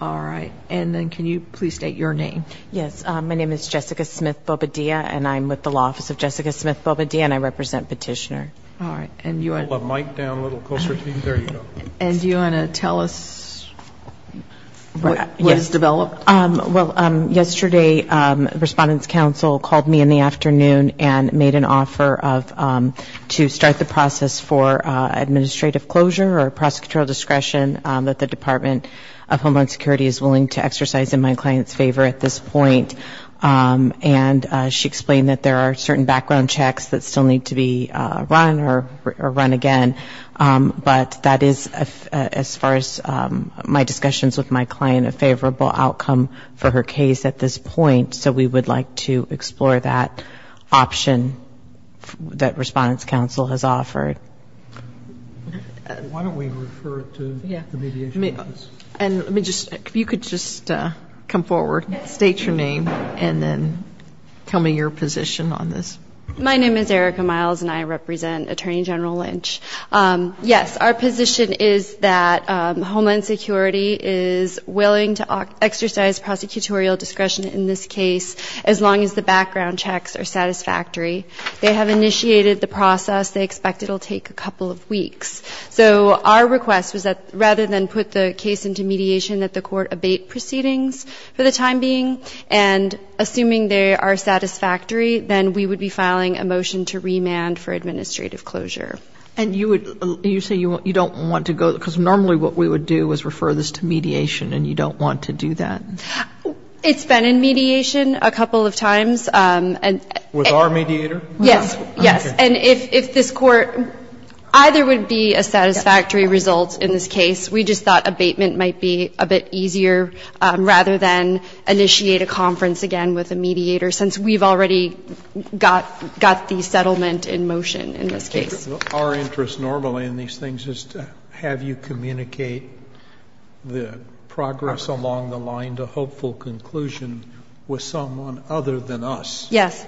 My name is Jessica Smith-Bobadilla and I am with the Law Office of Jessica Smith-Bobadilla and I represent Petitioner. Do you want to tell us what has developed? Yesterday, Respondents Council called me in the afternoon and made an offer to start the process for administrative closure or prosecutorial discretion that the Department of Homeland Security is willing to exercise in my client's favor at this point. And she explained that there are certain background checks that still need to be run or run again. But that is, as far as my discussions with my client, a favorable outcome for her case at this point. So we would like to explore that option that Respondents Council has offered. Why don't we refer to the mediation office? And let me just, if you could just come forward, state your name, and then tell me your position on this. My name is Erica Miles and I represent Attorney General Lynch. Yes, our position is that Homeland Security is willing to exercise prosecutorial discretion in this case as long as the background checks are satisfactory. They have initiated the process. They expect it will take a couple of weeks. So our request was that rather than put the case into mediation that the court abate proceedings for the time being, and assuming they are satisfactory, then we would be filing a motion to remand for administrative closure. And you would, you say you don't want to go, because normally what we would do is refer this to mediation and you don't want to do that. It's been in mediation a couple of times. With our mediator? Yes, yes. And if this Court, either would be a satisfactory result in this case. We just thought abatement might be a bit easier rather than initiate a conference again with a mediator, since we've already got the settlement in motion in this case. Our interest normally in these things is to have you communicate the progress along the line to hopeful conclusion with someone other than us. Yes,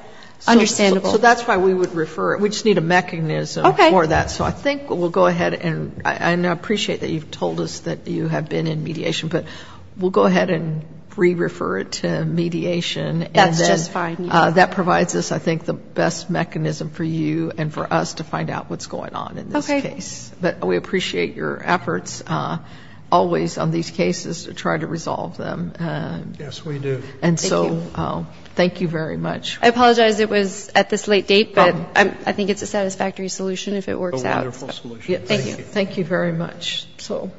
understandable. So that's why we would refer it. We just need a mechanism for that. Okay. So I think we'll go ahead and I appreciate that you've told us that you have been in mediation, but we'll go ahead and re-refer it to mediation. That's just fine. That provides us, I think, the best mechanism for you and for us to find out what's going on in this case. Okay. But we appreciate your efforts always on these cases to try to resolve them. Yes, we do. Thank you. And so thank you very much. I apologize it was at this late date, but I think it's a satisfactory solution if it works out. A wonderful solution. Thank you. Thank you very much. So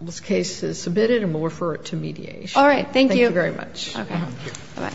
this case is submitted and we'll refer it to mediation. All right. Thank you. Thank you very much. Okay. Bye-bye.